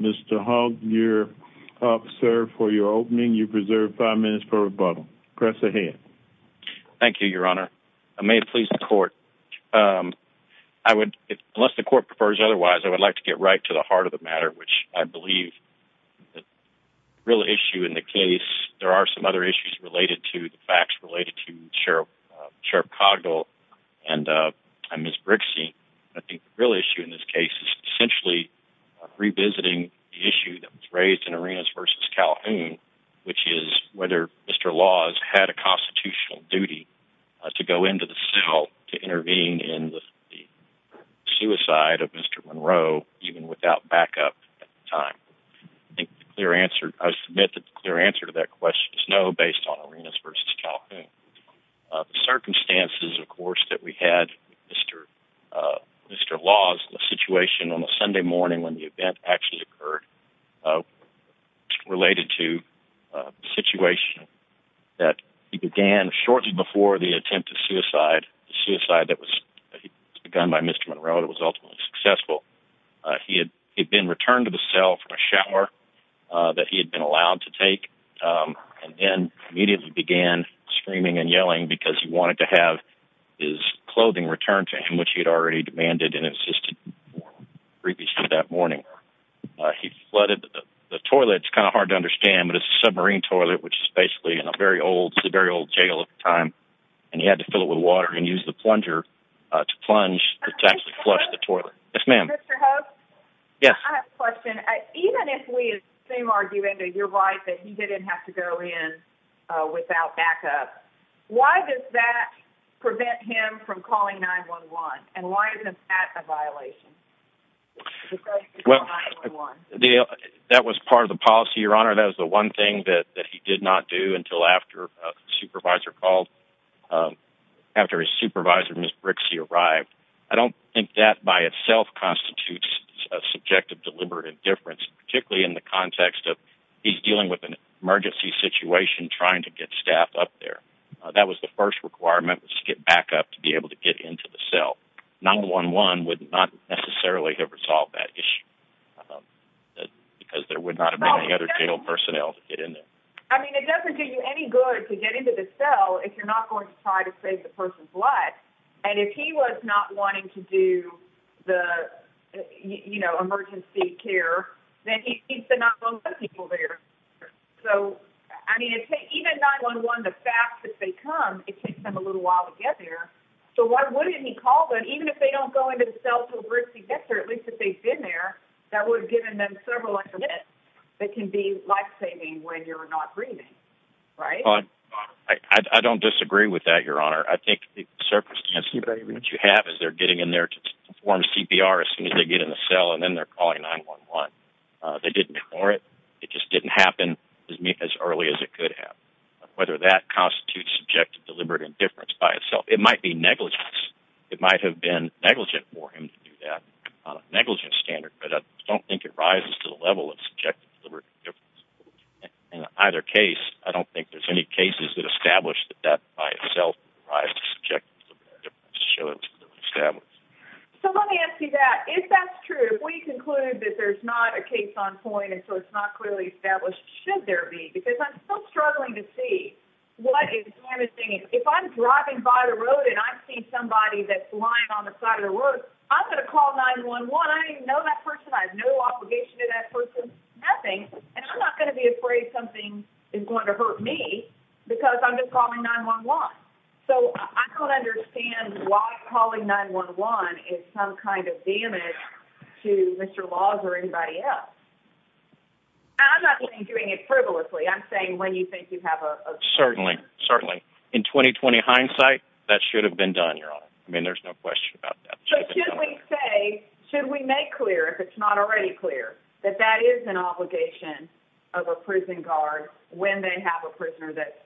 Mr. Hogg, you're up, sir, for your opening. You've reserved five minutes for rebuttal. Cress ahead. Thank you, your honor. I may have pleased the court. I would, unless the court prefers otherwise, I would like to get right to the heart of the matter, which I believe the real issue in the case, there are some other issues related to the facts related to Sheriff Cogdell and Ms. Brixey. I think the real issue in this case is essentially revisiting the issue that was raised in Arenas v. Calhoun, which is whether Mr. Laws had a constitutional duty to go into the cell to intervene in the suicide of Mr. Monroe, even without backup at the time. I think the clear answer, I submit that the clear answer to that question is no, based on Arenas v. Calhoun. The circumstances, of course, that we had with Mr. Laws, the situation on a record, related to a situation that he began shortly before the attempt to suicide, a suicide that was begun by Mr. Monroe that was ultimately successful. He had been returned to the cell from a shower that he had been allowed to take, and then immediately began screaming and yelling because he wanted to have his clothing returned to him, which he had already demanded and insisted previously that morning. He flooded the toilet. It's kind of hard to understand, but it's a submarine toilet, which is basically in a very old, very old jail at the time, and he had to fill it with water and use the plunger to plunge, to actually flush the toilet. Yes, ma'am. Mr. Hogue? Yes. I have a question. Even if we assume, arguing that you're right, that he didn't have to go in without backup, why does that situation? Well, that was part of the policy, Your Honor. That was the one thing that he did not do until after a supervisor called, after his supervisor, Ms. Brixey, arrived. I don't think that by itself constitutes a subjective, deliberate indifference, particularly in the context of he's dealing with an emergency situation, trying to get staff up there. That was the first requirement, was to get backup to be able to get into the cell. 911 would not necessarily have resolved that issue, because there would not have been any other jail personnel to get in there. I mean, it doesn't do you any good to get into the cell if you're not going to try to save the person's life, and if he was not wanting to do the, you know, emergency care, then he needs to 911 people there. So, I mean, even 911, the fact that they come, it takes them a little while to get there, so why wouldn't he call them, even if they don't go into the cell until Brixey gets there, at least if they've been there, that would have given them several extra minutes that can be life-saving when you're not breathing, right? I don't disagree with that, Your Honor. I think the circumstances that you have is they're getting in there to perform CPR as soon as they get in the cell, and then they're calling 911. They didn't ignore it. It just didn't happen as early as it could have, whether that constitutes subjective deliberate indifference by itself. It might be negligence. It might have been negligent for him to do that on a negligent standard, but I don't think it rises to the level of subjective deliberate indifference. In either case, I don't think there's any cases that establish that that by itself rises to subjective deliberate indifference to show it was clearly established. So, let me ask you that. If that's true, if we conclude that there's not a case on point, so it's not clearly established, should there be? Because I'm still struggling to see what is damaging. If I'm driving by the road and I see somebody that's lying on the side of the road, I'm going to call 911. I know that person. I have no obligation to that person, nothing, and I'm not going to be afraid something is going to hurt me because I'm just calling 911. So, I don't understand why calling 911 is some kind of damage to Mr. Logs or anybody else. I'm not saying doing it frivolously. I'm saying when you think you have a... Certainly, certainly. In 2020 hindsight, that should have been done, Your Honor. I mean, there's no question about that. So, should we say, should we make clear, if it's not already clear, that that is an obligation of a prison guard when they have a prisoner that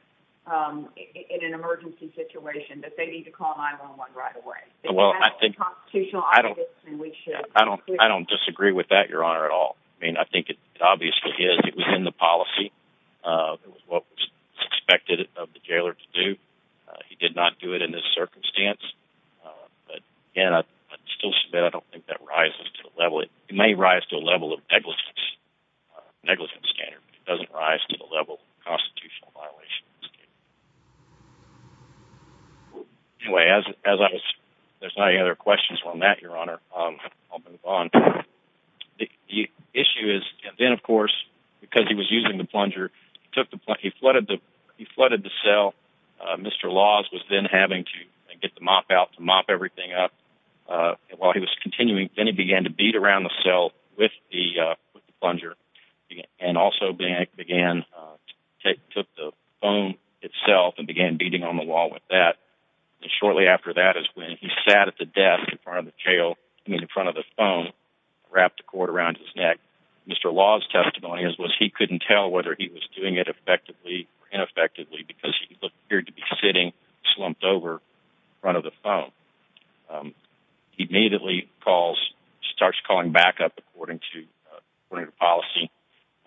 in an emergency situation that they need to call 911 right away? Well, I think... That's a constitutional obligation and we should... I don't disagree with that, Your Honor, at all. I mean, I think it obviously is. It was in the policy. It was what was expected of the jailer to do. He did not do it in this circumstance, but again, I still submit I don't think that rises to the level... It may rise to a level of negligence standard, but it doesn't rise to the level of constitutional violations. Anyway, as I was... There's not any other questions on that, Your Honor. I'll move on. The issue is... And then, of course, because he was using the plunger, he took the... He flooded the... He flooded the cell. Mr. Laws was then having to get the mop out to mop everything up while he was continuing. Then he began to beat around the cell with the plunger and also began... itself and began beating on the wall with that, and shortly after that is when he sat at the desk in front of the jail... I mean, in front of the phone, wrapped the cord around his neck. Mr. Laws' testimony was he couldn't tell whether he was doing it effectively or ineffectively because he appeared to be sitting slumped over in front of the phone. He immediately calls... Starts calling backup according to policy.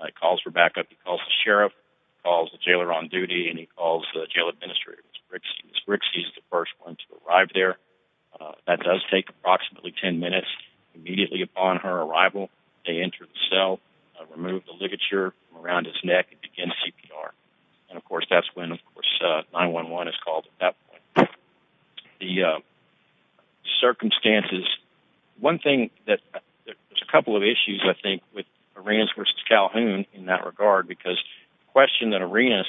He calls for backup. He calls the sheriff, calls the jailer on duty, and he calls the jail administrator, Ms. Brixey. Ms. Brixey is the first one to arrive there. That does take approximately 10 minutes. Immediately upon her arrival, they enter the cell, remove the ligature around his neck, and begin CPR. And, of course, that's when, of course, 911 is called at that point. The circumstances... One thing that... There's a couple of issues, I think, with Arenas versus Calhoun in that regard because the question that Arenas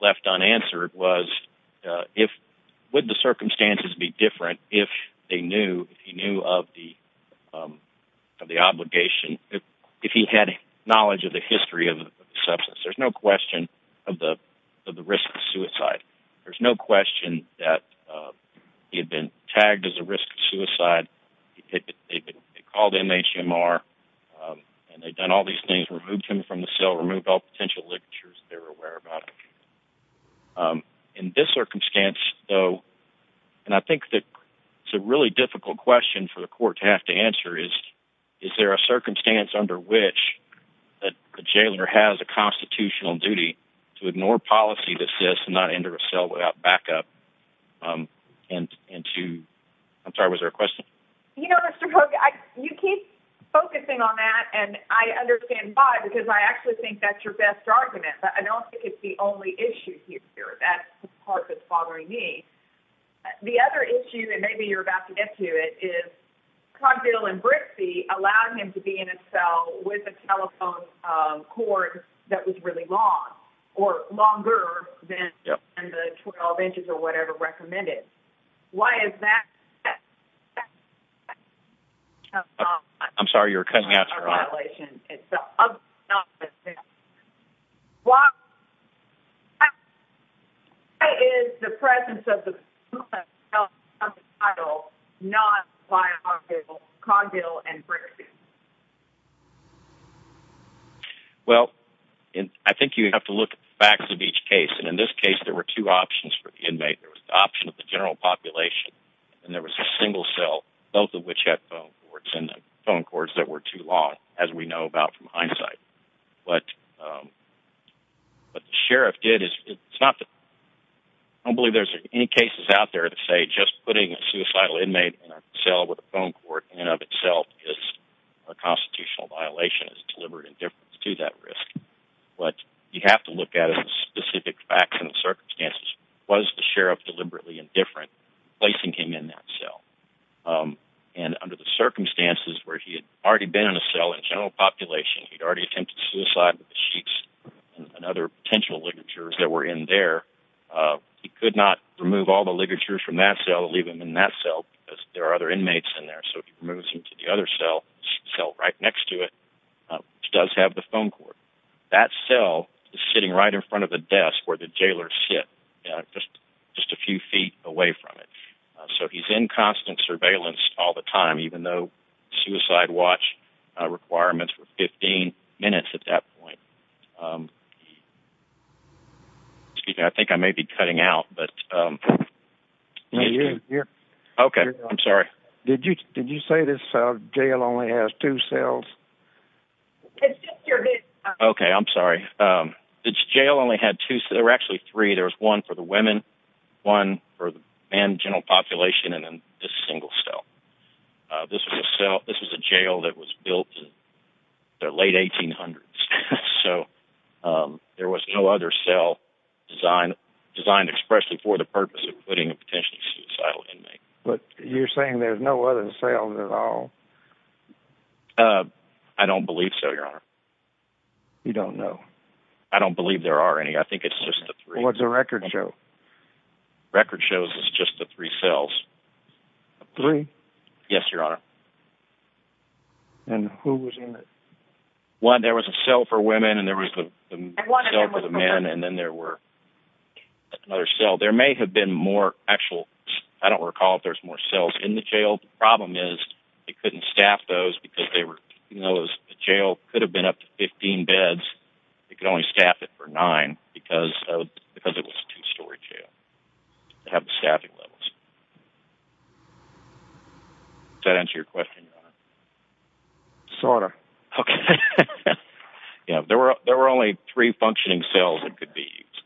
left unanswered was if... Would the circumstances be different if they knew, if he knew of the obligation, if he had knowledge of the history of the substance? There's no question of the risk of suicide. There's no question that he had been tagged as a risk of suicide. They called MHMR, and they'd done all these things, removed him from the cell, removed all potential ligatures that they were aware about. In this circumstance, though, and I think that it's a really difficult question for the court to have to answer is, is there a circumstance under which that the jailer has a constitutional duty to ignore policy to assist and not enter a cell without backup? And to... I'm sorry, was there a question? You know, Mr. Polk, you keep focusing on that, and I understand why, because I actually think that's your best argument, but I don't think it's the only issue here. That's the part that's bothering me. The other issue, and maybe you're about to get to it, is Cogdill and Brixey allowed him to be in a cell with a telephone cord that was really long or longer than the 12 inches or why is that? I'm sorry, you're cutting out. Why is the presence of the title not by Cogdill and Brixey? Well, I think you have to look at the facts of each case, and in this case, there were two cell populations, and there was a single cell, both of which had phone cords that were too long, as we know about from hindsight. But what the sheriff did is... I don't believe there's any cases out there that say just putting a suicidal inmate in a cell with a phone cord in and of itself is a constitutional violation. It's deliberate indifference to that risk. But you placing him in that cell, and under the circumstances where he had already been in a cell in general population, he'd already attempted suicide with the sheets and other potential ligatures that were in there, he could not remove all the ligatures from that cell and leave him in that cell because there are other inmates in there. So he moves him to the other cell right next to it, which does have the phone cord. That cell is sitting right in front of the jailer's sit, just a few feet away from it. So he's in constant surveillance all the time, even though suicide watch requirements were 15 minutes at that point. Excuse me, I think I may be cutting out, but... Okay, I'm sorry. Did you say this jail only has two cells? It's just your... Okay, I'm sorry. This jail only had two... There were actually three. There was one for the women, one for the men in general population, and then this single cell. This was a jail that was built in the late 1800s. So there was no other cell designed expressly for the purpose of putting a potentially suicidal inmate. But you're saying there's no other cells at all? I don't believe so, Your Honor. You don't know? I don't believe there are any. I think it's just the three. Well, it's a record show. Record shows it's just the three cells. Three? Yes, Your Honor. And who was in it? One, there was a cell for women, and there was a cell for the men, and then there were another cell. There may have been more actual... I don't recall if there's more cells in the jail. The problem is they couldn't staff those because the jail could have been up to 15 beds. They could only staff it for nine because it was a two-story jail. They have staffing levels. Does that answer your question, Your Honor? Sort of. Okay. There were only three functioning cells that could be used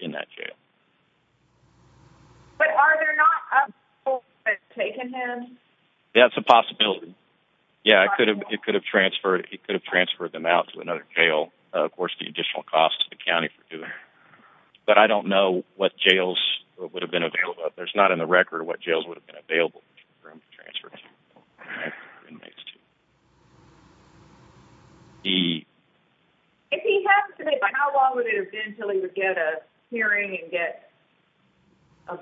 in that jail. But are there not other cells that have taken him? That's a possibility. Yeah, it could have transferred them out to another jail, of course, the additional cost to the county for doing it. But I don't know what jails would have been available. There's not in the record what jails would have been available for inmates to transfer. If he has to be, how long would it have been until he would get a hearing and get a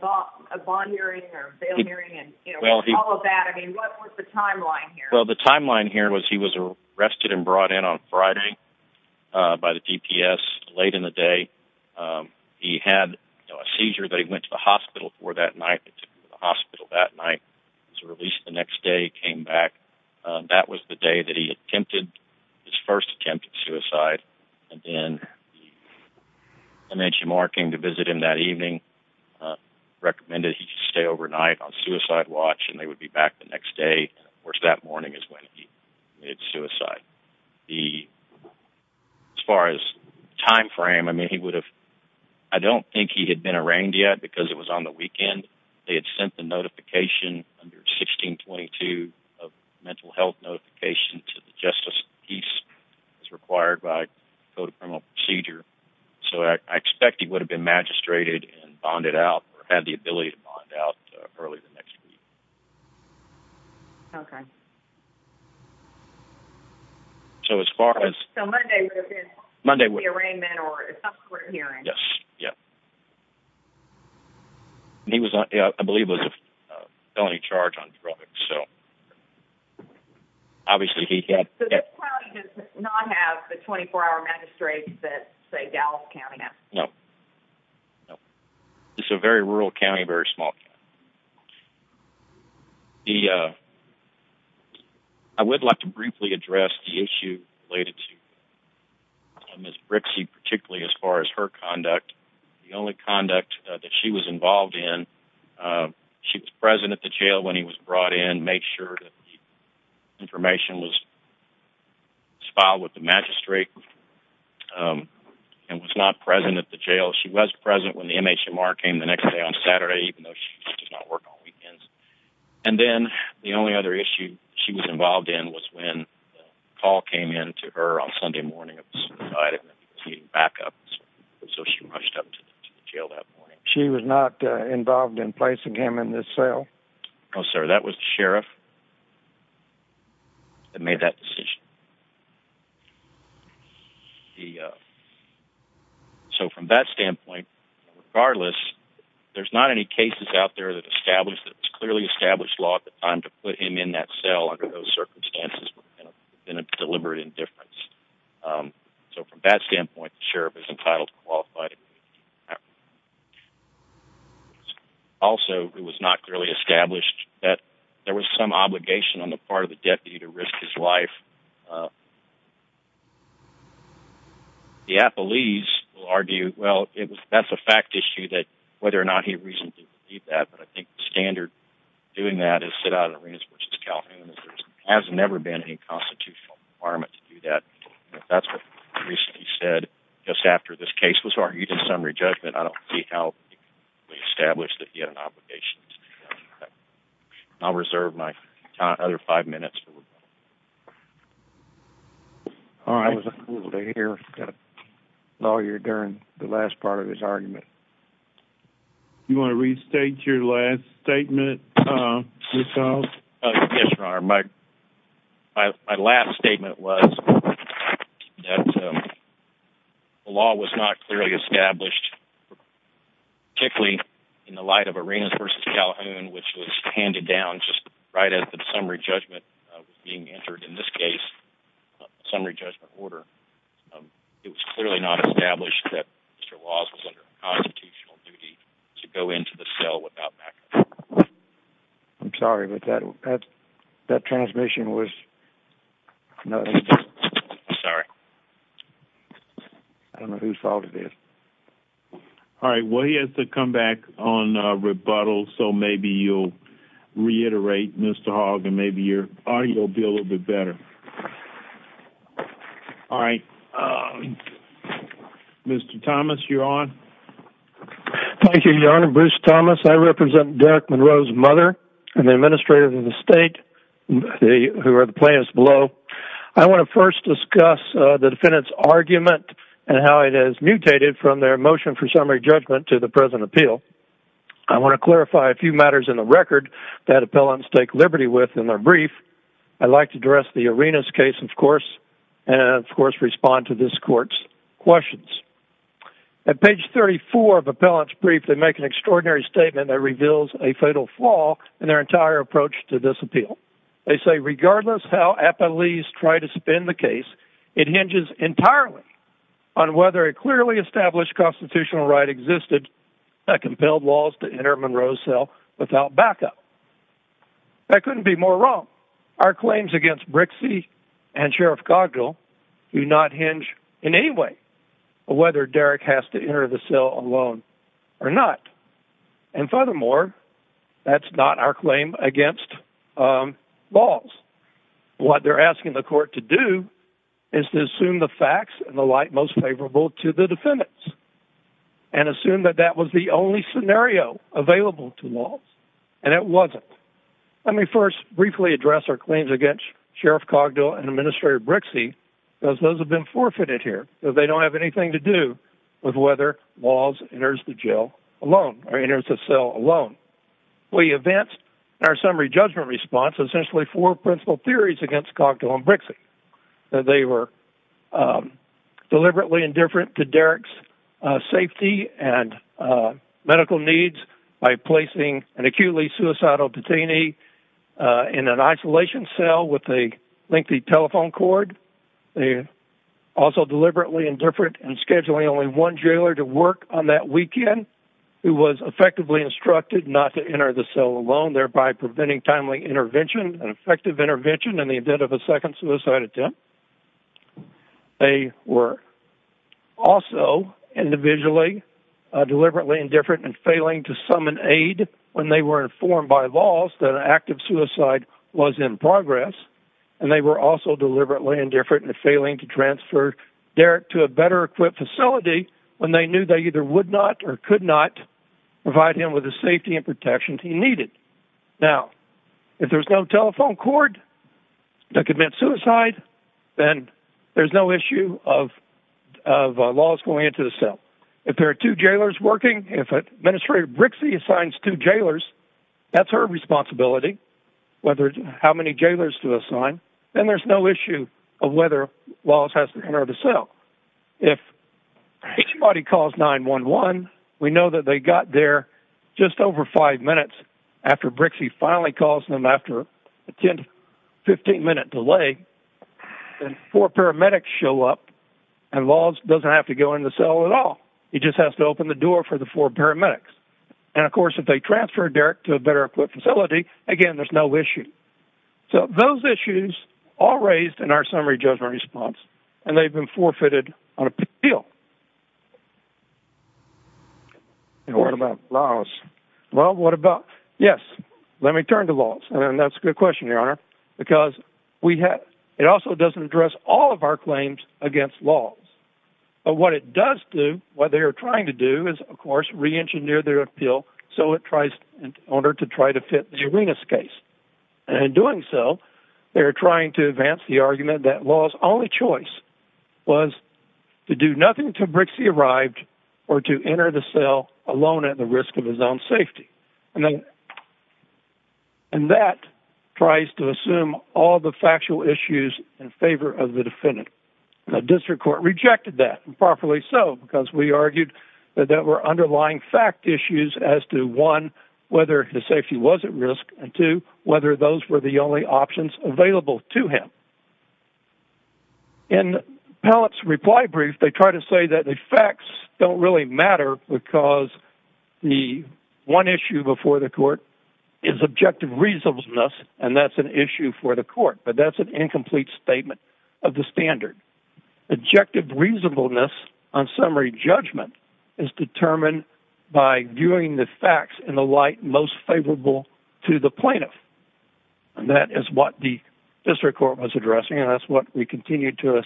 bond hearing or bail hearing and all of that? I mean, what was the timeline here? Well, the timeline here was he was arrested and brought in on Friday by the DPS late in the day. He had a seizure that he went to the hospital for that night. He was released the next day, came back. That was the day that he attempted his first attempt at suicide. And then I mentioned Mark came to visit him that evening, recommended he stay overnight on suicide watch and they would be back the next day. Of course, that morning is when he committed suicide. As far as timeframe, I mean, he would have, I don't think he had been arraigned yet because it was on the weekend. They had sent a notification under 1622 of mental health notification to the justice piece as required by Code of Criminal Procedure. So I expect he would have been magistrated and bonded out or had the ability to bond out early the next week. Okay. So as far as- So Monday would have been the arraignment or subsequent hearing? Yes. Yeah. I believe it was a felony charge on drugs. So obviously he had- So this county does not have the 24-hour magistrates that say Dallas County has? No. No. It's a very rural county, very small county. Okay. The, uh, I would like to briefly address the issue related to Ms. Brixey, particularly as far as her conduct. The only conduct that she was involved in, she was present at the jail when he was brought in, made sure that the information was filed with the magistrate and was not present at the jail. She was present when the MHMR came the next day on Saturday, even though she does not work on weekends. And then the only other issue she was involved in was when a call came in to her on Sunday morning. So she rushed up to the jail that morning. She was not involved in placing him in this cell? No, sir. That was the sheriff that made that decision. Okay. So from that standpoint, regardless, there's not any cases out there that established that it was clearly established law at the time to put him in that cell under those circumstances in a deliberate indifference. So from that standpoint, the sheriff is entitled to qualify. Also, it was not clearly established that there was some obligation on the part of the deputy to do that. The police will argue, well, that's a fact issue that whether or not he recently did that. But I think the standard doing that is sit out of the ring, which is Calhoun. There has never been any constitutional requirement to do that. That's what he recently said just after this case was argued in summary judgment. I don't see how we established that he had an obligation. I'll reserve my other five minutes. All right. Lawyer during the last part of his argument. You want to restate your last statement? Yes, your honor. My last statement was that the law was not clearly established, particularly in the light of arenas versus Calhoun, which was handed down just as the summary judgment was being entered in this case. Summary judgment order. It was clearly not established that Mr. Laws was under constitutional duty to go into the cell without. I'm sorry, but that that transmission was. Sorry. I don't know whose fault it is. All right, well, he has to come back on rebuttal, so maybe you'll reiterate Mr. Hogg and maybe your audio will be a little bit better. All right. Mr. Thomas, you're on. Thank you, your honor. Bruce Thomas. I represent Derek Monroe's mother and the administrator of the state who are the players below. I want to first discuss the defendant's mutated from their motion for summary judgment to the present appeal. I want to clarify a few matters in the record that appellants take liberty with in their brief. I'd like to address the arenas case, of course, and, of course, respond to this court's questions. At page 34 of appellant's brief, they make an extraordinary statement that reveals a fatal flaw in their entire approach to this appeal. They say regardless how appellees try to spin the case, it hinges entirely on whether a clearly established constitutional right existed that compelled Walsh to enter Monroe's cell without backup. That couldn't be more wrong. Our claims against Brixey and Sheriff Cogdell do not hinge in any way on whether Derek has to enter the cell alone or not. And furthermore, that's not our claim against Walsh. What they're is to assume the facts and the light most favorable to the defendants and assume that that was the only scenario available to Walsh, and it wasn't. Let me first briefly address our claims against Sheriff Cogdell and Administrator Brixey, because those have been forfeited here. They don't have anything to do with whether Walsh enters the jail alone or enters the cell alone. We advance our summary response, essentially four principle theories against Cogdell and Brixey. They were deliberately indifferent to Derek's safety and medical needs by placing an acutely suicidal detainee in an isolation cell with a lengthy telephone cord. They were also deliberately indifferent in scheduling only one jailer to work on that weekend, who was effectively instructed not to enter the cell alone, thereby preventing timely intervention and effective intervention in the event of a second suicide attempt. They were also individually deliberately indifferent in failing to summon aid when they were informed by Walsh that an act of suicide was in progress, and they were also deliberately indifferent in failing to transfer Derek to a better equipped facility when they knew they either would not or could not provide him with the safety and protection he needed. Now, if there's no telephone cord that could mean suicide, then there's no issue of Walsh going into the cell. If there are two jailers working, if Administrator Brixey assigns two jailers, that's her responsibility, how many jailers to assign, then there's no issue of whether Walsh has to enter the cell. If anybody calls 911, we know that they got there just over five minutes after Brixey finally calls them after a 15-minute delay, and four paramedics show up, and Walsh doesn't have to go in the cell at all. He just has to open the door for the four paramedics. And of course, if they transfer Derek to a better equipped facility, again, there's no issue. So those issues all raised in our summary judgment response, and they've been forfeited on appeal. And what about laws? Well, what about... Yes, let me turn to laws, and that's a good question, Your Honor, because it also doesn't address all of our claims against laws. But what it does do, what they are trying to do is, of course, re-engineer their appeal in order to try to fit the Arenas case. And in doing so, they're trying to advance the argument that law's only choice was to do nothing until Brixey arrived or to enter the cell alone at the risk of his own safety. And that tries to assume all the factual issues in favor of the defendant. The district court rejected that, and properly so, because we argued that there were underlying fact issues as to, one, whether his safety was at risk, and two, whether those were the only options available to him. In Pallett's reply brief, they try to say that the facts don't really matter because the one issue before the court is objective reasonableness, and that's an issue for the court, but that's an incomplete statement of the standard. Objective reasonableness on summary judgment is determined by viewing the facts in the light most favorable to the plaintiff. And that is what the district court was addressing, and that's what we continue to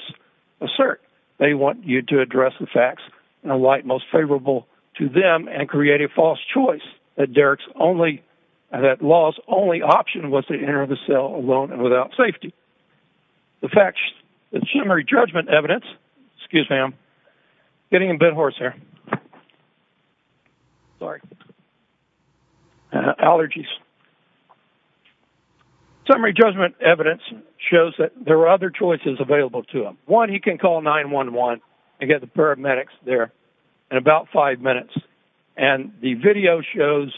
assert. They want you to address the facts in a light most favorable to them and create a false choice that law's only option was to enter the cell alone and without safety. The fact that summary judgment evidence, excuse me, I'm getting a bit hoarse here. Sorry. Allergies. Summary judgment evidence shows that there are other choices available to him. One, he can call 911 and get the paramedics there in about five minutes, and the video shows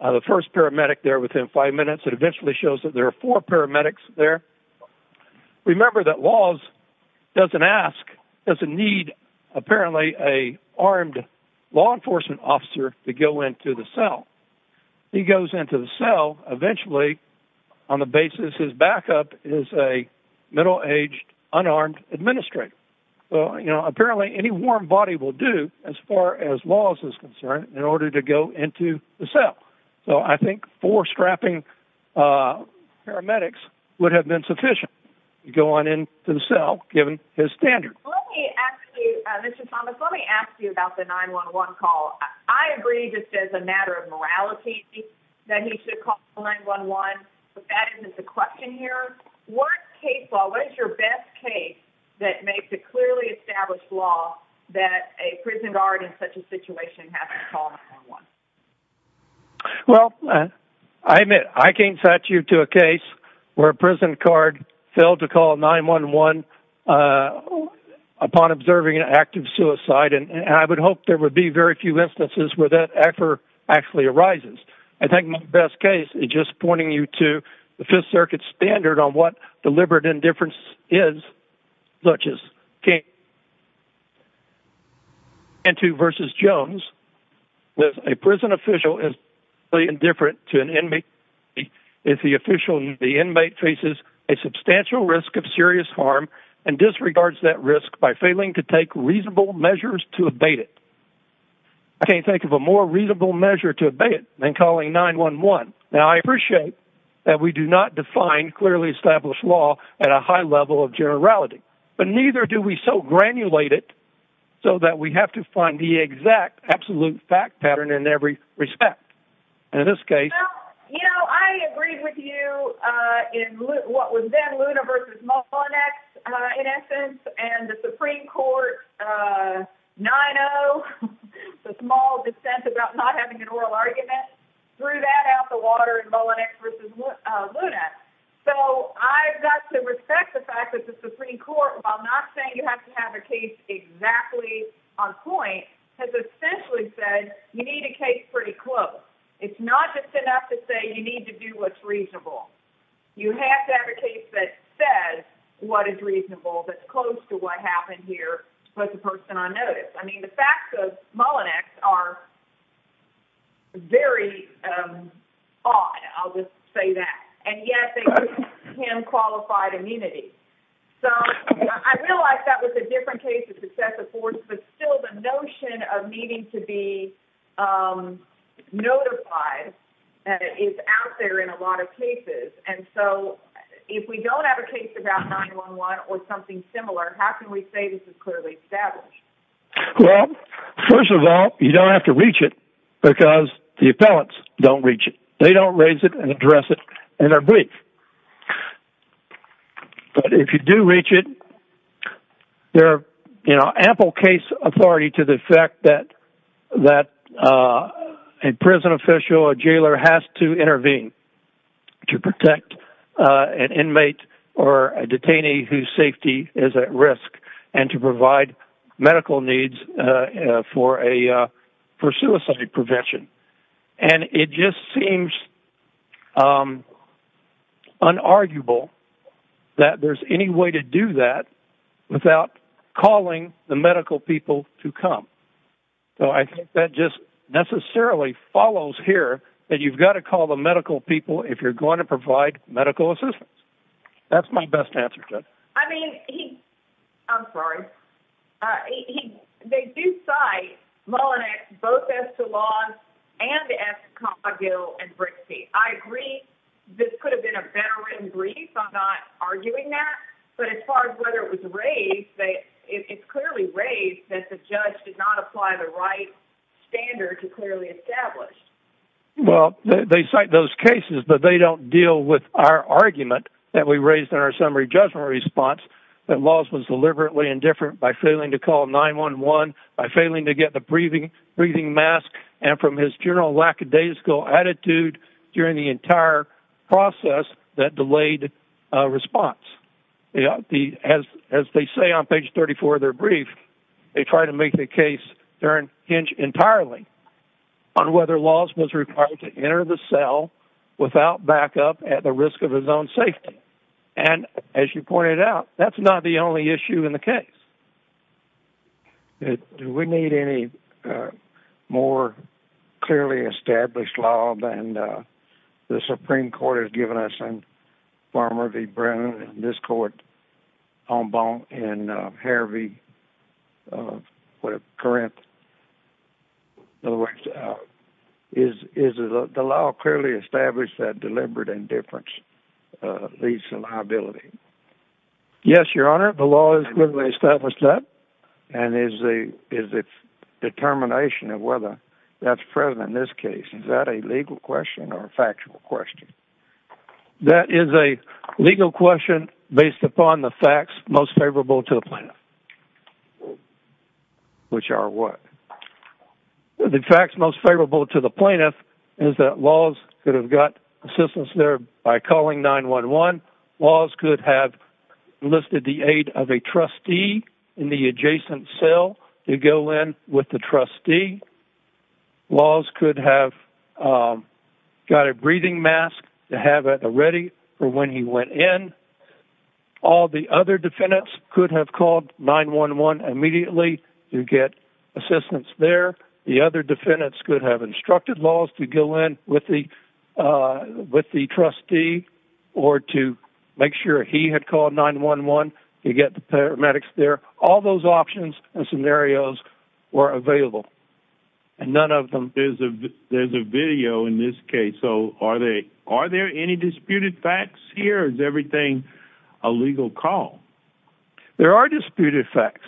the first paramedic there within five minutes and eventually shows that there are four paramedics there. Remember that laws doesn't ask, doesn't need apparently a armed law enforcement officer to go into the cell. He goes into the cell eventually on the basis his backup is a middle-aged unarmed administrator. Well, you know, apparently any warm body will do as far as laws is concerned in order to go into the cell. So I think four strapping paramedics would have been sufficient to go on into the cell given his standard. Let me ask you, Mr. Thomas, let me ask you about the 911 call. I agree just as a matter of morality that he should call 911, but that isn't the question here. What case law, what is your best case that makes it clearly established law that a prison guard in such a situation has to call 911? Well, I admit, I can't set you to a case where a prison guard failed to call 911 upon observing an act of suicide, and I would hope there would be very few instances where that effort actually arises. I think my best case is just pointing you to the Fifth Circuit standard on what deliberate indifference is, such as... ...and to versus Jones, that a prison official is indifferent to an inmate if the official, the inmate faces a substantial risk of serious harm and disregards that risk by failing to take reasonable measures to abate it. I can't think of a more reasonable measure to abate it than calling 911. Now, I appreciate that we do not define clearly established law at a high level of generality, but neither do we so granulate it so that we have to find the exact absolute fact pattern in every respect. In this case... Well, you know, I agreed with you in what was then Luna versus Mullinex, in essence, and the Supreme Court 9-0, the small dissent about not having an oral argument, threw that out the water in Mullinex versus Luna. So I've got to respect the fact that the Supreme Court, while not saying you have to have a case exactly on point, has essentially said you need a case pretty close. It's not just enough to say you need to do what's reasonable. You have to have a case that says what is reasonable, that's close to what happened here to put the person on notice. I mean, the facts of Mullinex are very odd, I'll just say that, and yet they give him qualified immunity. So I realize that was a different case of successive force, but still the notion of needing to be notified is out there in a lot of cases. And so if we don't have a case about 911 or something similar, how can we say this is clearly established? Well, first of all, you don't have to reach it because the appellants don't reach it. They don't raise it and address it in their brief. But if you do reach it, there are ample case authority to the fact that a prison official or jailer has to intervene to protect an inmate or a detainee whose safety is at risk and to provide medical needs for suicide prevention. And it just seems unarguable that there's any way to do that without calling the medical people to come. So I think that just necessarily follows here that you've got to call the medical people if you're going to provide medical assistance. That's my best answer. I mean, I'm sorry. They do cite Mullinex both as to laws and as to Cogill and Brixey. I agree, this could have been a better written brief. I'm not arguing that. But as far as whether it was raised, it's clearly raised that the judge did not apply the right standard to clearly establish. Well, they cite those cases, but they don't deal with our argument that we raised in our summary judgment response that laws was deliberately indifferent by failing to call 9-1-1, by failing to get the breathing mask, and from his general lackadaisical attitude during the entire process that delayed response. As they say on page 34 of their brief, they try to make the case turn hinge entirely on whether laws was required to enter the cell without backup at the risk of zone safety. And as you pointed out, that's not the only issue in the case. Do we need any more clearly established law than the Supreme Court has given us, Farmer v. Brown, and this court, Omba and Harvey, whatever, Corinth, in other words, is the law clearly established that deliberate indifference leads to liability? Yes, Your Honor, the law is clearly established that. And is the determination of whether that's present in this case, is that a legal question or a factual question? That is a legal question based upon the facts most favorable to a plaintiff. Which are what? The facts most favorable to the plaintiff is that laws could have got assistance there by calling 9-1-1. Laws could have listed the aid of a trustee in the adjacent cell to go in with the trustee. Laws could have got a breathing mask to have at the ready for when he went in. All the other defendants could have called 9-1-1 immediately to get assistance there. The other defendants could have instructed laws to go in with the trustee or to make sure he had called 9-1-1 to get the paramedics there. All those options and scenarios were available. And none of them... There's a video in this case. So are there any disputed facts here? Or is everything a legal call? There are disputed facts.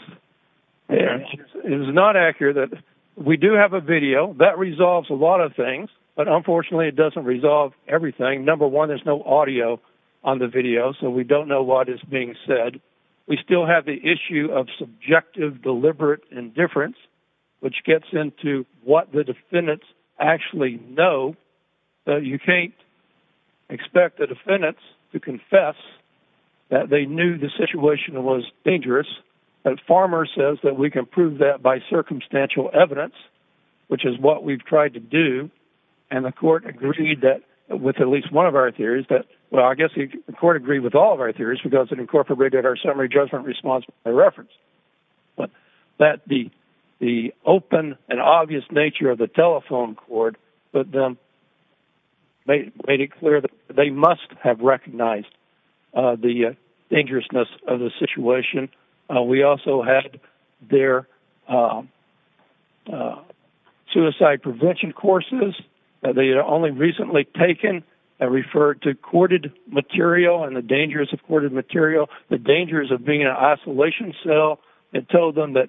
It is not accurate that we do have a video. That resolves a lot of things. But unfortunately, it doesn't resolve everything. Number one, there's no audio on the video. So we don't know what is being said. We still have the issue of subjective, deliberate indifference, which gets into what the defendants actually know. You can't expect the defendants to confess that they knew the situation was dangerous. The farmer says that we can prove that by circumstantial evidence, which is what we've tried to do. And the court agreed that with at least one of our theories that... Well, I guess the court agreed with all of our theories because it incorporated our summary judgment response by reference. But that the open and obvious nature of the telephone cord made it clear that they must have recognized the dangerousness of the situation. We also had their suicide prevention courses. They had only recently taken and referred to dangerous recorded material, the dangers of being in an isolation cell, and told them that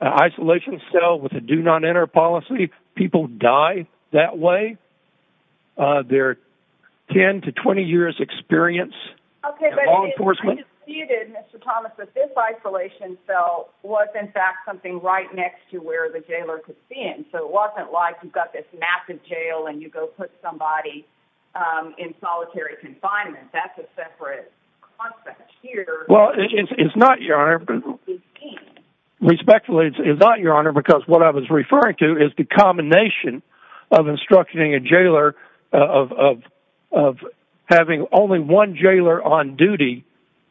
an isolation cell with a do not enter policy, people die that way. Their 10 to 20 years experience in law enforcement... Okay, but I disputed, Mr. Thomas, that this isolation cell was in fact something right next to where the jailer could be in. So it wasn't like you've got this massive jail and you go put somebody in solitary confinement. That's a separate concept here. Well, it's not, Your Honor. Respectfully, it's not, Your Honor, because what I was referring to is the combination of instructioning a jailer, of having only one jailer on duty,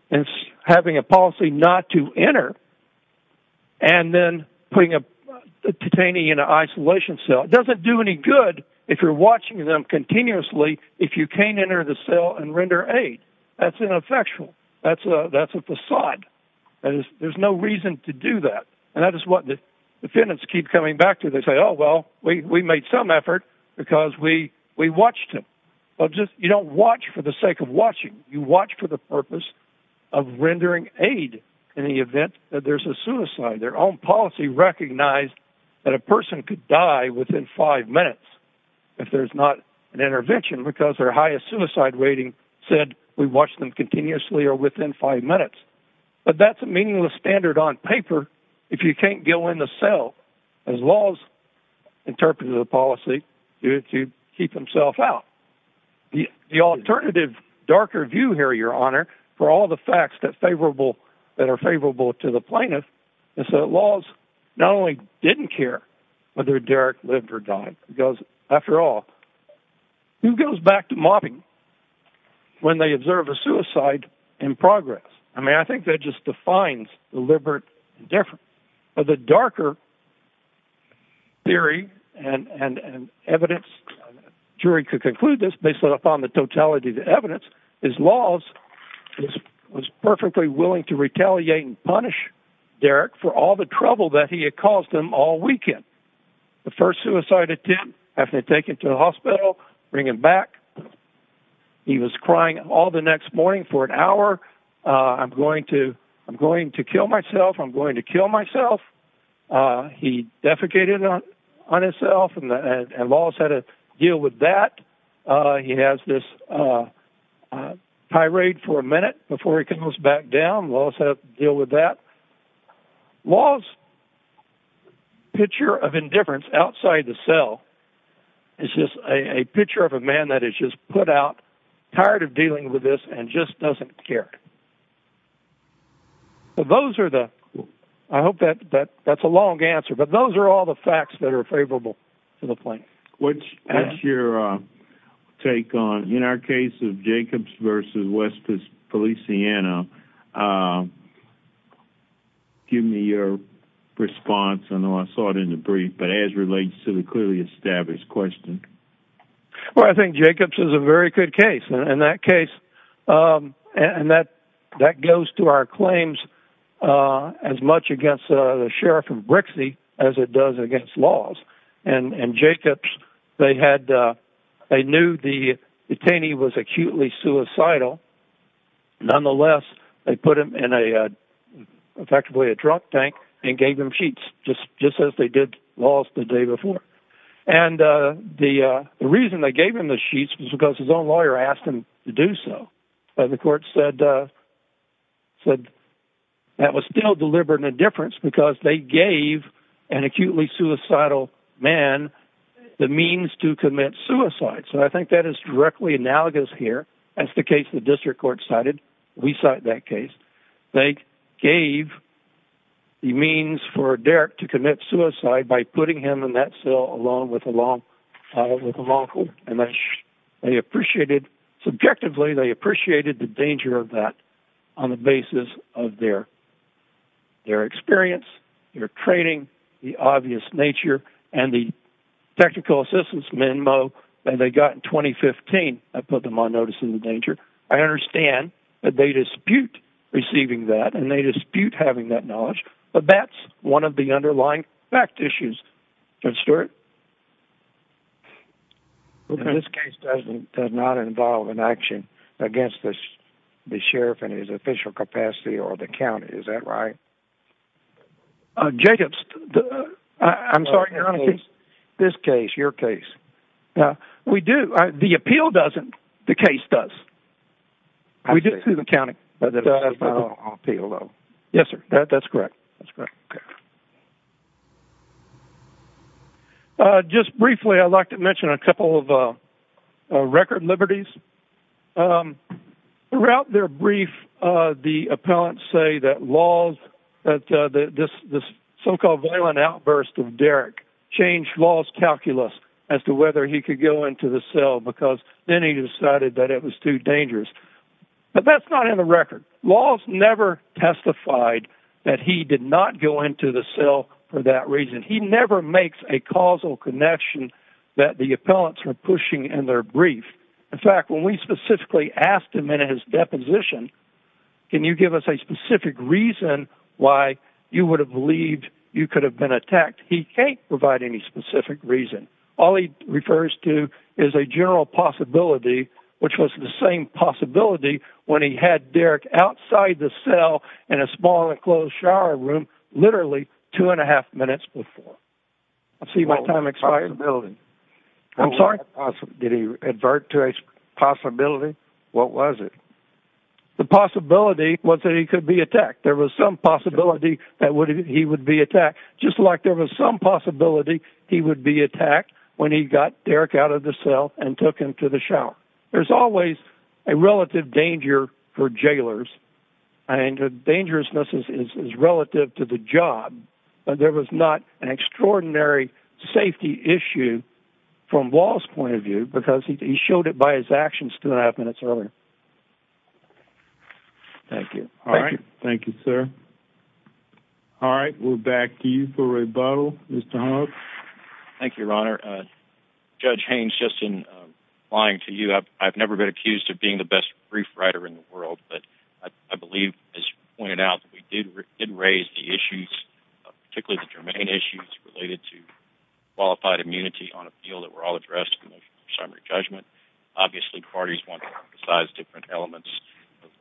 and having a policy not to enter, and then putting a detainee in an isolation cell. It doesn't do any good if you're watching them continuously, if you can't enter the cell and render aid. That's ineffectual. That's a facade. There's no reason to do that. And that is what the defendants keep coming back to. They say, oh, well, we made some effort because we watched him. But you don't watch for the sake of watching. You watch for the purpose of rendering aid in the event that there's a suicide. Their own policy recognized that a person could die within five minutes if there's not an intervention, because their highest suicide rating said we watched them continuously or within five minutes. But that's a meaningless standard on paper if you can't go in the cell, as laws interpreted the policy, to keep himself out. The alternative, darker view here, Your Honor, for all the facts that are favorable to the plaintiff is that laws not only didn't care whether Derek lived or died, because after all, who goes back to mopping when they observe a suicide in progress? I mean, I think that just defines deliberate indifference. But the darker theory and evidence, jury could conclude this based upon the totality of the evidence. His laws was perfectly willing to retaliate and punish Derek for all the trouble that he had caused him all weekend. The first suicide attempt after taken to the hospital, bring him back. He was crying all the next morning for an hour. I'm going to I'm going to kill myself. I'm going to kill myself. He defecated on himself, and laws had to deal with that. He has this tirade for a minute before he comes back down. Laws have to deal with that. Laws' picture of indifference outside the cell is just a picture of a man that is just put out, tired of dealing with this and just doesn't care. But those are the I hope that that that's a long answer. But those are all the facts that are favorable to the point which your take on in our case of Jacobs versus West Policiano. Give me your response. I know I saw it in the brief, but as relates to the clearly good case in that case and that that goes to our claims as much against the sheriff of Brixie as it does against laws and Jacobs, they had they knew the detainee was acutely suicidal. Nonetheless, they put him in a effectively a drug tank and gave him sheets just just as they did laws the day before. And the reason they gave him the sheets was because his own lawyer asked him to do so. But the court said said that was still deliberate indifference because they gave an acutely suicidal man the means to commit suicide. So I think that is directly analogous here. That's the case the district court cited. We cite that case. They gave the means for Derek to commit suicide by putting him in that cell along with along with a local and they appreciated subjectively. They appreciated the danger of that on the basis of their their experience, their training, the obvious nature and the technical assistance memo that they got in 2015. I put them on notice in the danger. I understand that they dispute receiving that and they dispute having that knowledge. But that's one of the underlying fact issues. And Stuart. Well, this case doesn't does not involve an action against the sheriff in his official capacity or the county. Is that right? Jacobs, I'm sorry. This case, your case. No, we do. The appeal doesn't. The case does. We did to the county, but I'll pay a little. Yes, sir. That's correct. That's correct. Just briefly, I'd like to mention a couple of record liberties throughout their brief. The appellants say that laws that this this so-called violent outburst of Derek changed laws calculus as to whether he could go into the cell because then he decided that it was too dangerous. But that's not in the record. Laws never testified that he did not go into the cell for that reason. He never makes a causal connection that the appellants are pushing in their brief. In fact, when we specifically asked him in his deposition, can you give us a specific reason why you would have believed you could have been attacked? He can't provide any specific reason. All he refers to is a general possibility, which was the same possibility when he had Derek outside the cell in a small enclosed shower room literally two and a half minutes before. I've seen my time expiring building. I'm sorry. Did he advert to a possibility? What was it? The possibility was that he could be attacked. There was some possibility that he would be attacked, just like there was some possibility he would be attacked when he got Derek out of the cell and took him to the shower. There's always a relative danger for jailers, and the dangerousness is relative to the job. But there was not an extraordinary safety issue from law's point of view because he showed it by his actions two and a half minutes earlier. Thank you. All right. Thank you, sir. All right. We'll back to you for a rebuttal, Mr. Hunt. Thank you, Your Honor. Judge Haynes, just in lying to you, I've never been accused of being the best brief writer in the world, but I believe, as you pointed out, we did raise the issues, particularly the germane issues related to qualified immunity on appeal that were all besides different elements of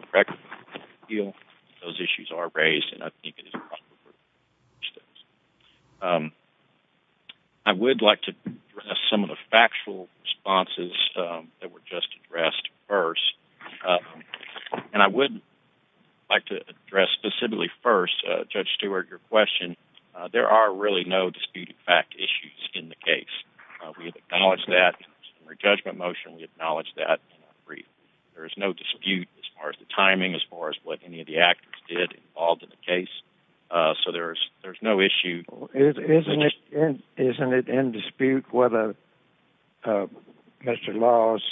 the record on appeal. Those issues are raised, and I think it is a proper group to reach those. I would like to address some of the factual responses that were just addressed first, and I would like to address specifically first, Judge Stewart, your question. There are really no disputed fact issues in the case. We have acknowledged that in our judgment motion. We acknowledged that in our brief. There is no dispute as far as the timing, as far as what any of the actors did involved in the case. So there's no issue. Isn't it in dispute whether Mr. Laws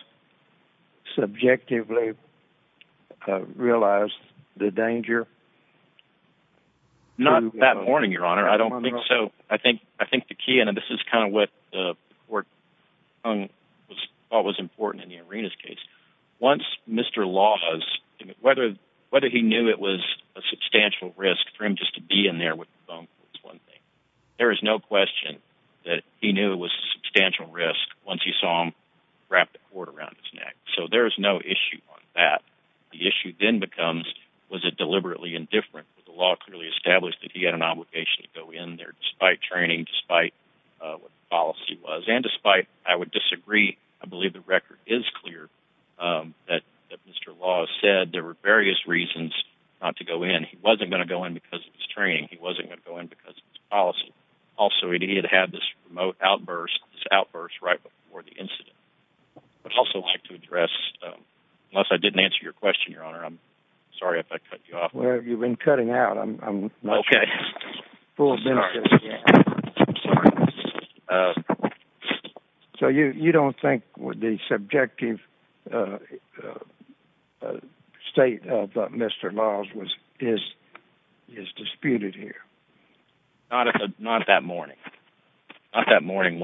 subjectively realized the danger? Not that morning, Your Honor. I don't think so. I think the key, and this is kind of what the important in the Arenas case, once Mr. Laws, whether he knew it was a substantial risk for him just to be in there with the phone call is one thing. There is no question that he knew it was a substantial risk once he saw him wrap the cord around his neck. So there is no issue on that. The issue then becomes, was it deliberately indifferent? The law clearly established that he had an obligation to go in there despite training, despite what the policy was, and I would disagree. I believe the record is clear that Mr. Laws said there were various reasons not to go in. He wasn't going to go in because of his training. He wasn't going to go in because of his policy. Also, he did have this remote outburst, this outburst right before the incident. I'd also like to address, unless I didn't answer your question, Your Honor, I'm sorry if I cut you off. Well, you've been cutting out. I'm not sure. Okay. I'm sorry. So you don't think the subjective state of Mr. Laws is disputed here? Not that morning. Not that morning.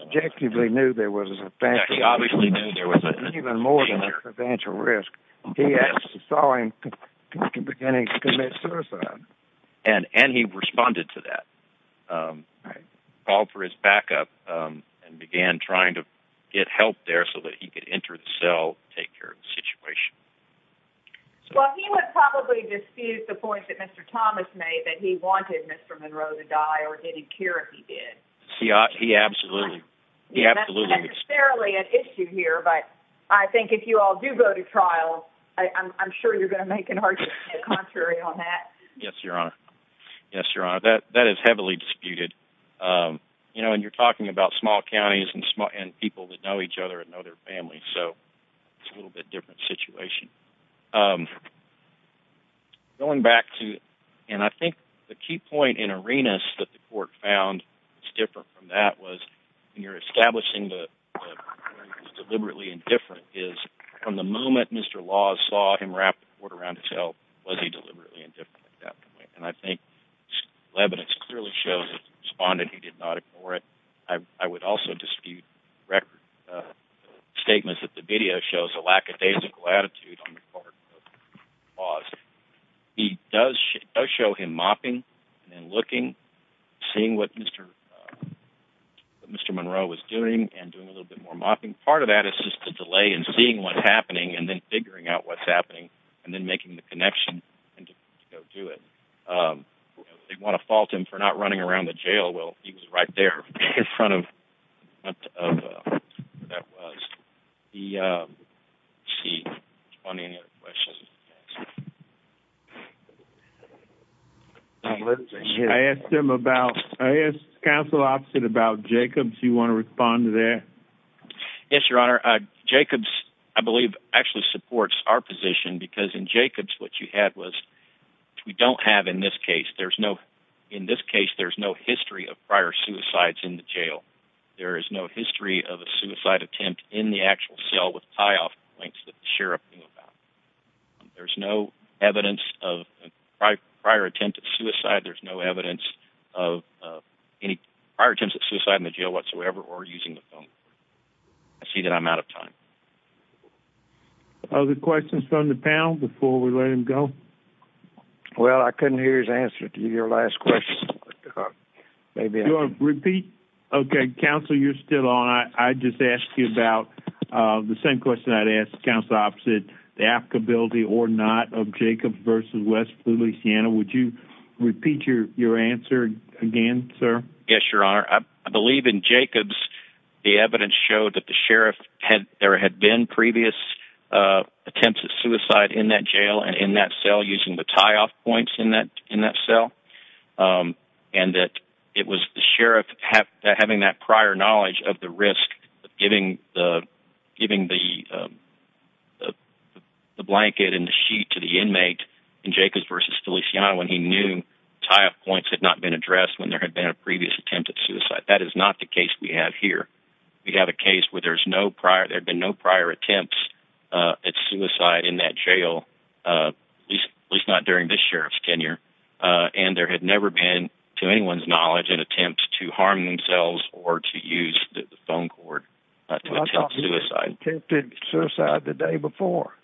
Subjectively knew there was a substantial risk. He saw him beginning to commit suicide. And he responded to that. Called for his backup and began trying to get help there so that he could enter the cell, take care of the situation. Well, he would probably dispute the point that Mr. Thomas made, that he wanted Mr. Monroe to die, or he didn't care if he did. He absolutely did. That's not necessarily an issue here, but I think if you all do go to trial, I'm sure you're going to make an argument contrary on that. Yes, Your Honor. Yes, Your Honor. That is heavily disputed. And you're talking about small counties and people that know each other and know their families. So it's a little bit different situation. Going back to, and I think the key point in Arenas that the court found was different from that was when you're establishing that he was deliberately indifferent, is from the moment Mr. Laws saw him wrap the court around his help, was he deliberately indifferent? And I think evidence clearly shows that he responded. He did not ignore it. I would also dispute record statements that the video shows a lackadaisical attitude on the part of Laws. It does show him mopping and looking, seeing what Mr. Monroe was doing and doing a little bit more mopping. Part of that is just the delay in seeing what's happening and then figuring out what's happening and then making the connection and to go do it. They want to fault him for not running around the jail. Well, he was right there in front of that was the seat on any questions. I asked him about, I asked counsel opposite about Jacobs. You want to respond to there? Yes, your honor. Uh, Jacobs, I believe actually supports our position because in Jacobs, what you had was, we don't have, in this case, there's no, in this case, there's no history of prior suicides in the jail. There is no history of a suicide attempt in the actual cell with tie suicide. There's no evidence of any prior attempts at suicide in the jail whatsoever, or using the phone. I see that I'm out of time. Other questions from the panel before we let him go? Well, I couldn't hear his answer to your last question. Maybe you want to repeat. Okay. Counsel, you're still on. I just asked you about, uh, the same question I'd ask counsel opposite the repeat your, your answer again, sir. Yes, your honor. I believe in Jacobs, the evidence showed that the sheriff had, there had been previous, uh, attempts at suicide in that jail and in that cell using the tie off points in that, in that cell. Um, and that it was the sheriff have having that prior knowledge of the risk of giving the, giving the, um, uh, blanket and the sheet to the inmate in Jacobs versus Feliciano when he knew tie up points had not been addressed when there had been a previous attempt at suicide. That is not the case we have here. We have a case where there's no prior, there'd been no prior attempts, uh, at suicide in that jail. Uh, at least not during this sheriff's tenure. Uh, and there had never been to anyone's knowledge and attempts to harm themselves or to use the phone cord to attempt suicide the day before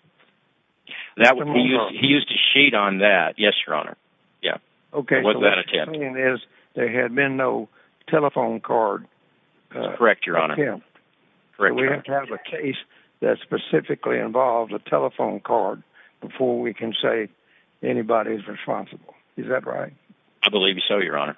that. He used a sheet on that. Yes, your honor. Yeah. Okay. There had been no telephone card. Correct. Your honor. Correct. We have to have a case that specifically involved a telephone card before we can say anybody's responsible. Is that right? I believe so. Your honor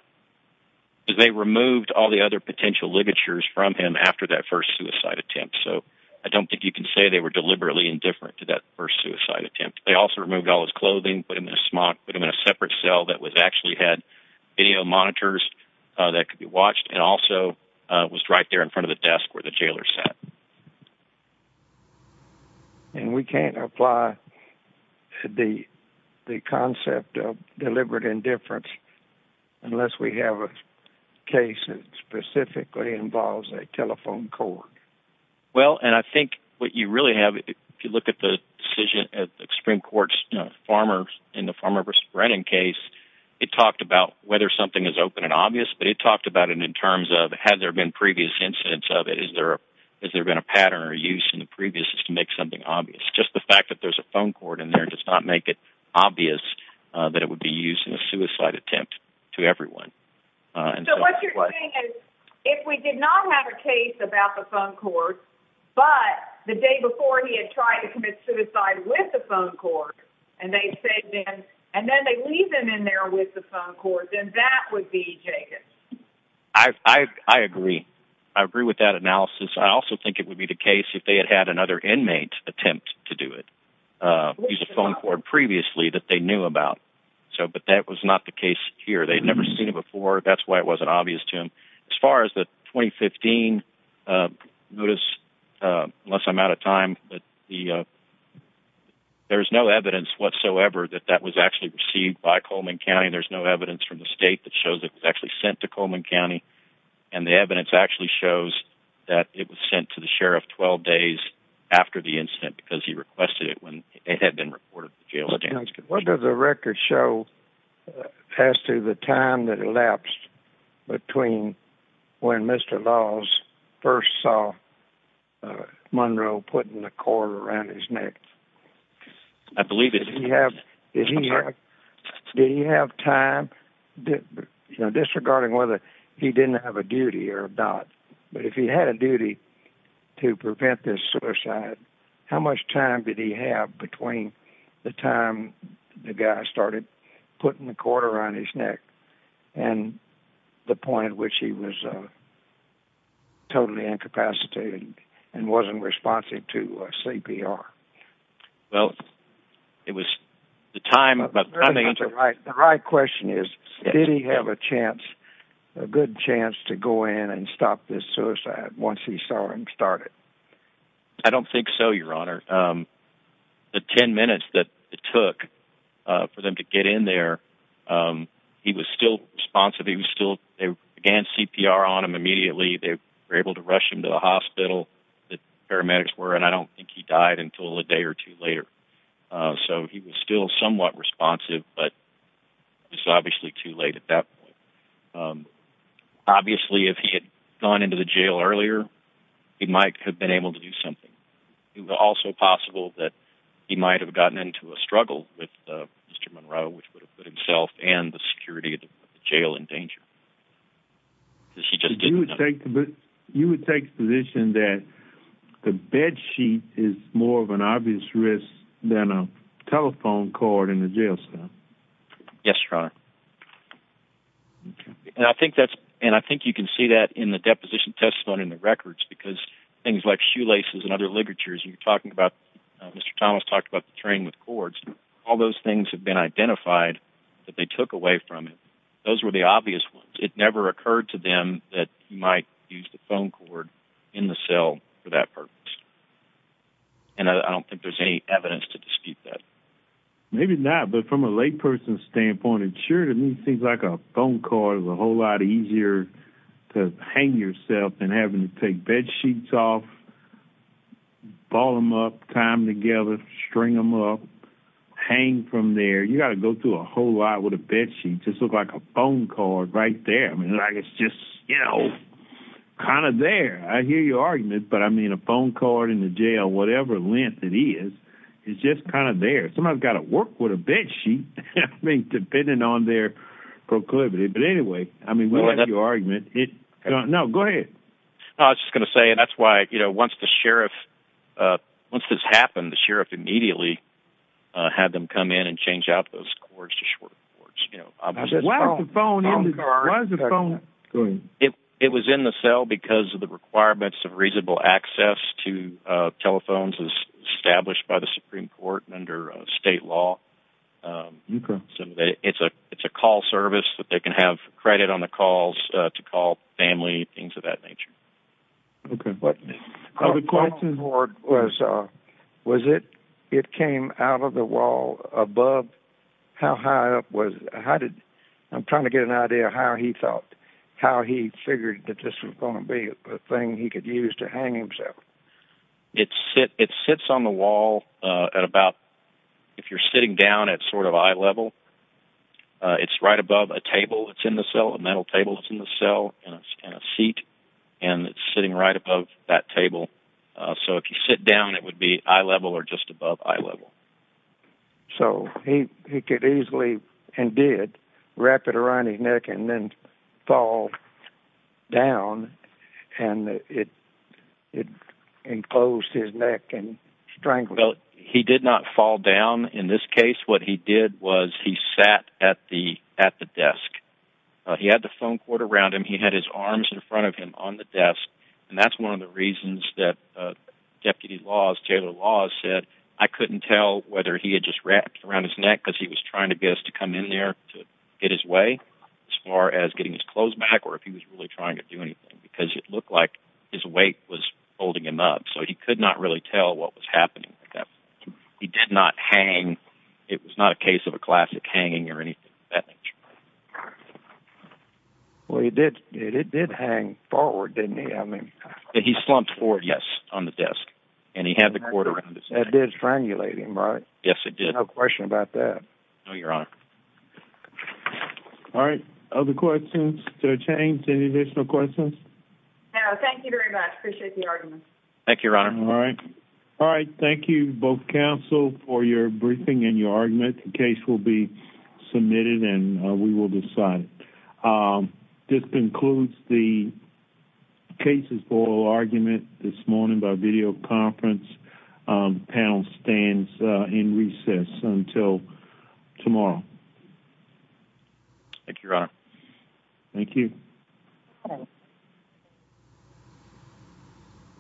is they removed all the other potential ligatures from him after that first suicide attempt. So I don't think you can say they were deliberately indifferent to that first suicide attempt. They also removed all his clothing, put him in a smock, put him in a separate cell that was actually had video monitors, uh, that could be watched and also, uh, was right there in front of the desk where the jailer sat. And we can't apply the, the concept of deliberate indifference unless we have a case that specifically involves a telephone cord. Well, and I think what you really have, if you look at the decision at extreme courts, farmers in the farmer versus Brennan case, it talked about whether something is open and obvious, but it talked about it in terms of, had there been previous incidents of it? Is there, has there been a pattern or use in the previous to make something obvious? Just the fact that there's a phone cord in there does not make it obvious that it would be used in a suicide attempt to everyone. If we did not have a case about the phone cord, but the day before he had tried to commit suicide with the phone cord and they said, and then they leave them in there with the phone cord, then that would be Jacob. I, I, I agree. I agree with that analysis. I also think it would be the case if they had had another inmate attempt to do it, uh, use a phone cord previously that they knew about. So, but that was not the case here. They'd never seen it before. That's why it wasn't obvious to him. As far as the 2015, uh, notice, uh, unless I'm out of time, but the, uh, there's no evidence whatsoever that that was actually received by Coleman County. There's no evidence from the state that shows it was actually sent to Coleman County. And the evidence actually shows that it was sent to the sheriff 12 days after the incident, because he requested it when it had been reported to jail. What does the record show as to the time that elapsed between when Mr. Laws first saw, uh, Monroe putting the cord around his or not. But if he had a duty to prevent this suicide, how much time did he have between the time the guy started putting the quarter on his neck and the point at which he was, uh, totally incapacitated and wasn't responsive to a CPR? Well, it was the time, but the right question is, did he have a chance, a good chance to go in and stop this suicide once he saw him start it? I don't think so. Your honor, um, the 10 minutes that it took, uh, for them to get in there. Um, he was still responsive. He was still, they began CPR on him immediately. They were able to rush him to the hospital that paramedics were. And I don't think he died until a day or two obviously too late at that point. Um, obviously if he had gone into the jail earlier, he might have been able to do something. It was also possible that he might've gotten into a struggle with Mr. Monroe, which would have put himself and the security of the jail in danger. You would take the position that the bed sheet is more of an obvious risk than a telephone cord in the jail cell. Yes, your honor. And I think that's, and I think you can see that in the deposition testimony in the records because things like shoelaces and other ligatures, you're talking about, uh, Mr. Thomas talked about the train with cords. All those things have been identified that they took away from it. Those were the obvious ones. It never occurred to them that you might use the phone cord in the cell for that purpose. And I don't think there's any evidence to dispute that. Maybe not, but from a lay person standpoint, it sure to me, things like a phone card is a whole lot easier to hang yourself and having to take bed sheets off, ball them up, time together, string them up, hang from there. You gotta go through a whole lot with a bed sheet. Just look like a phone card right there. I mean, like it's just, you know, kind of there. I hear your argument, but I mean a phone card in the jail, whatever length it is, it's just kind of there. Somebody's got to work with a bed sheet. I mean, depending on their proclivity. But anyway, I mean, what is your argument? No, no, go ahead. I was just going to say, and that's why, you know, once the sheriff, uh, once this happened, the sheriff immediately, uh, had them come in and change out those courts, you know, it was in the cell because of the requirements of reasonable access to, uh, telephones as under state law. Um, so it's a, it's a call service that they can have credit on the calls to call family, things of that nature. Okay. But the question was, uh, was it, it came out of the wall above how high up was, how did, I'm trying to get an idea of how he thought, how he figured that this was going to be a thing he could use to hang himself. It's sit, it sits on the wall, uh, at about, if you're sitting down at sort of eye level, uh, it's right above a table. It's in the cell, a metal table that's in the cell and it's in a seat and it's sitting right above that table. Uh, so if you sit down, it would be eye level or just above eye level. So he could easily and did wrap it around his neck and then fall down and it, it enclosed his neck and strangled. He did not fall down. In this case, what he did was he sat at the, at the desk. Uh, he had the phone cord around him. He had his arms in front of him on the desk. And that's one of the reasons that, uh, deputy laws, Taylor laws said, I couldn't tell whether he had just wrapped around his neck because he was trying to get us to come in there to get his way as far as getting his clothes back. Or if he was really trying to do anything because it looked like his weight was holding him up. So he could not really tell what was happening like that. He did not hang. It was not a case of a classic hanging or anything of that nature. Well, he did it. It did hang forward. Didn't he? I mean, he slumped forward. Yes. On the desk. And he had the cord around his neck. Yes, it did. No question about that. Your honor. All right. Other questions to change any additional questions? Thank you very much. Appreciate the argument. Thank you, your honor. All right. All right. Thank you both counsel for your briefing and your argument. The case will be submitted and we will decide. Um, just includes the cases for argument this morning by video conference. Um, panel stands in recess until tomorrow. Thank you, your honor. Thank you.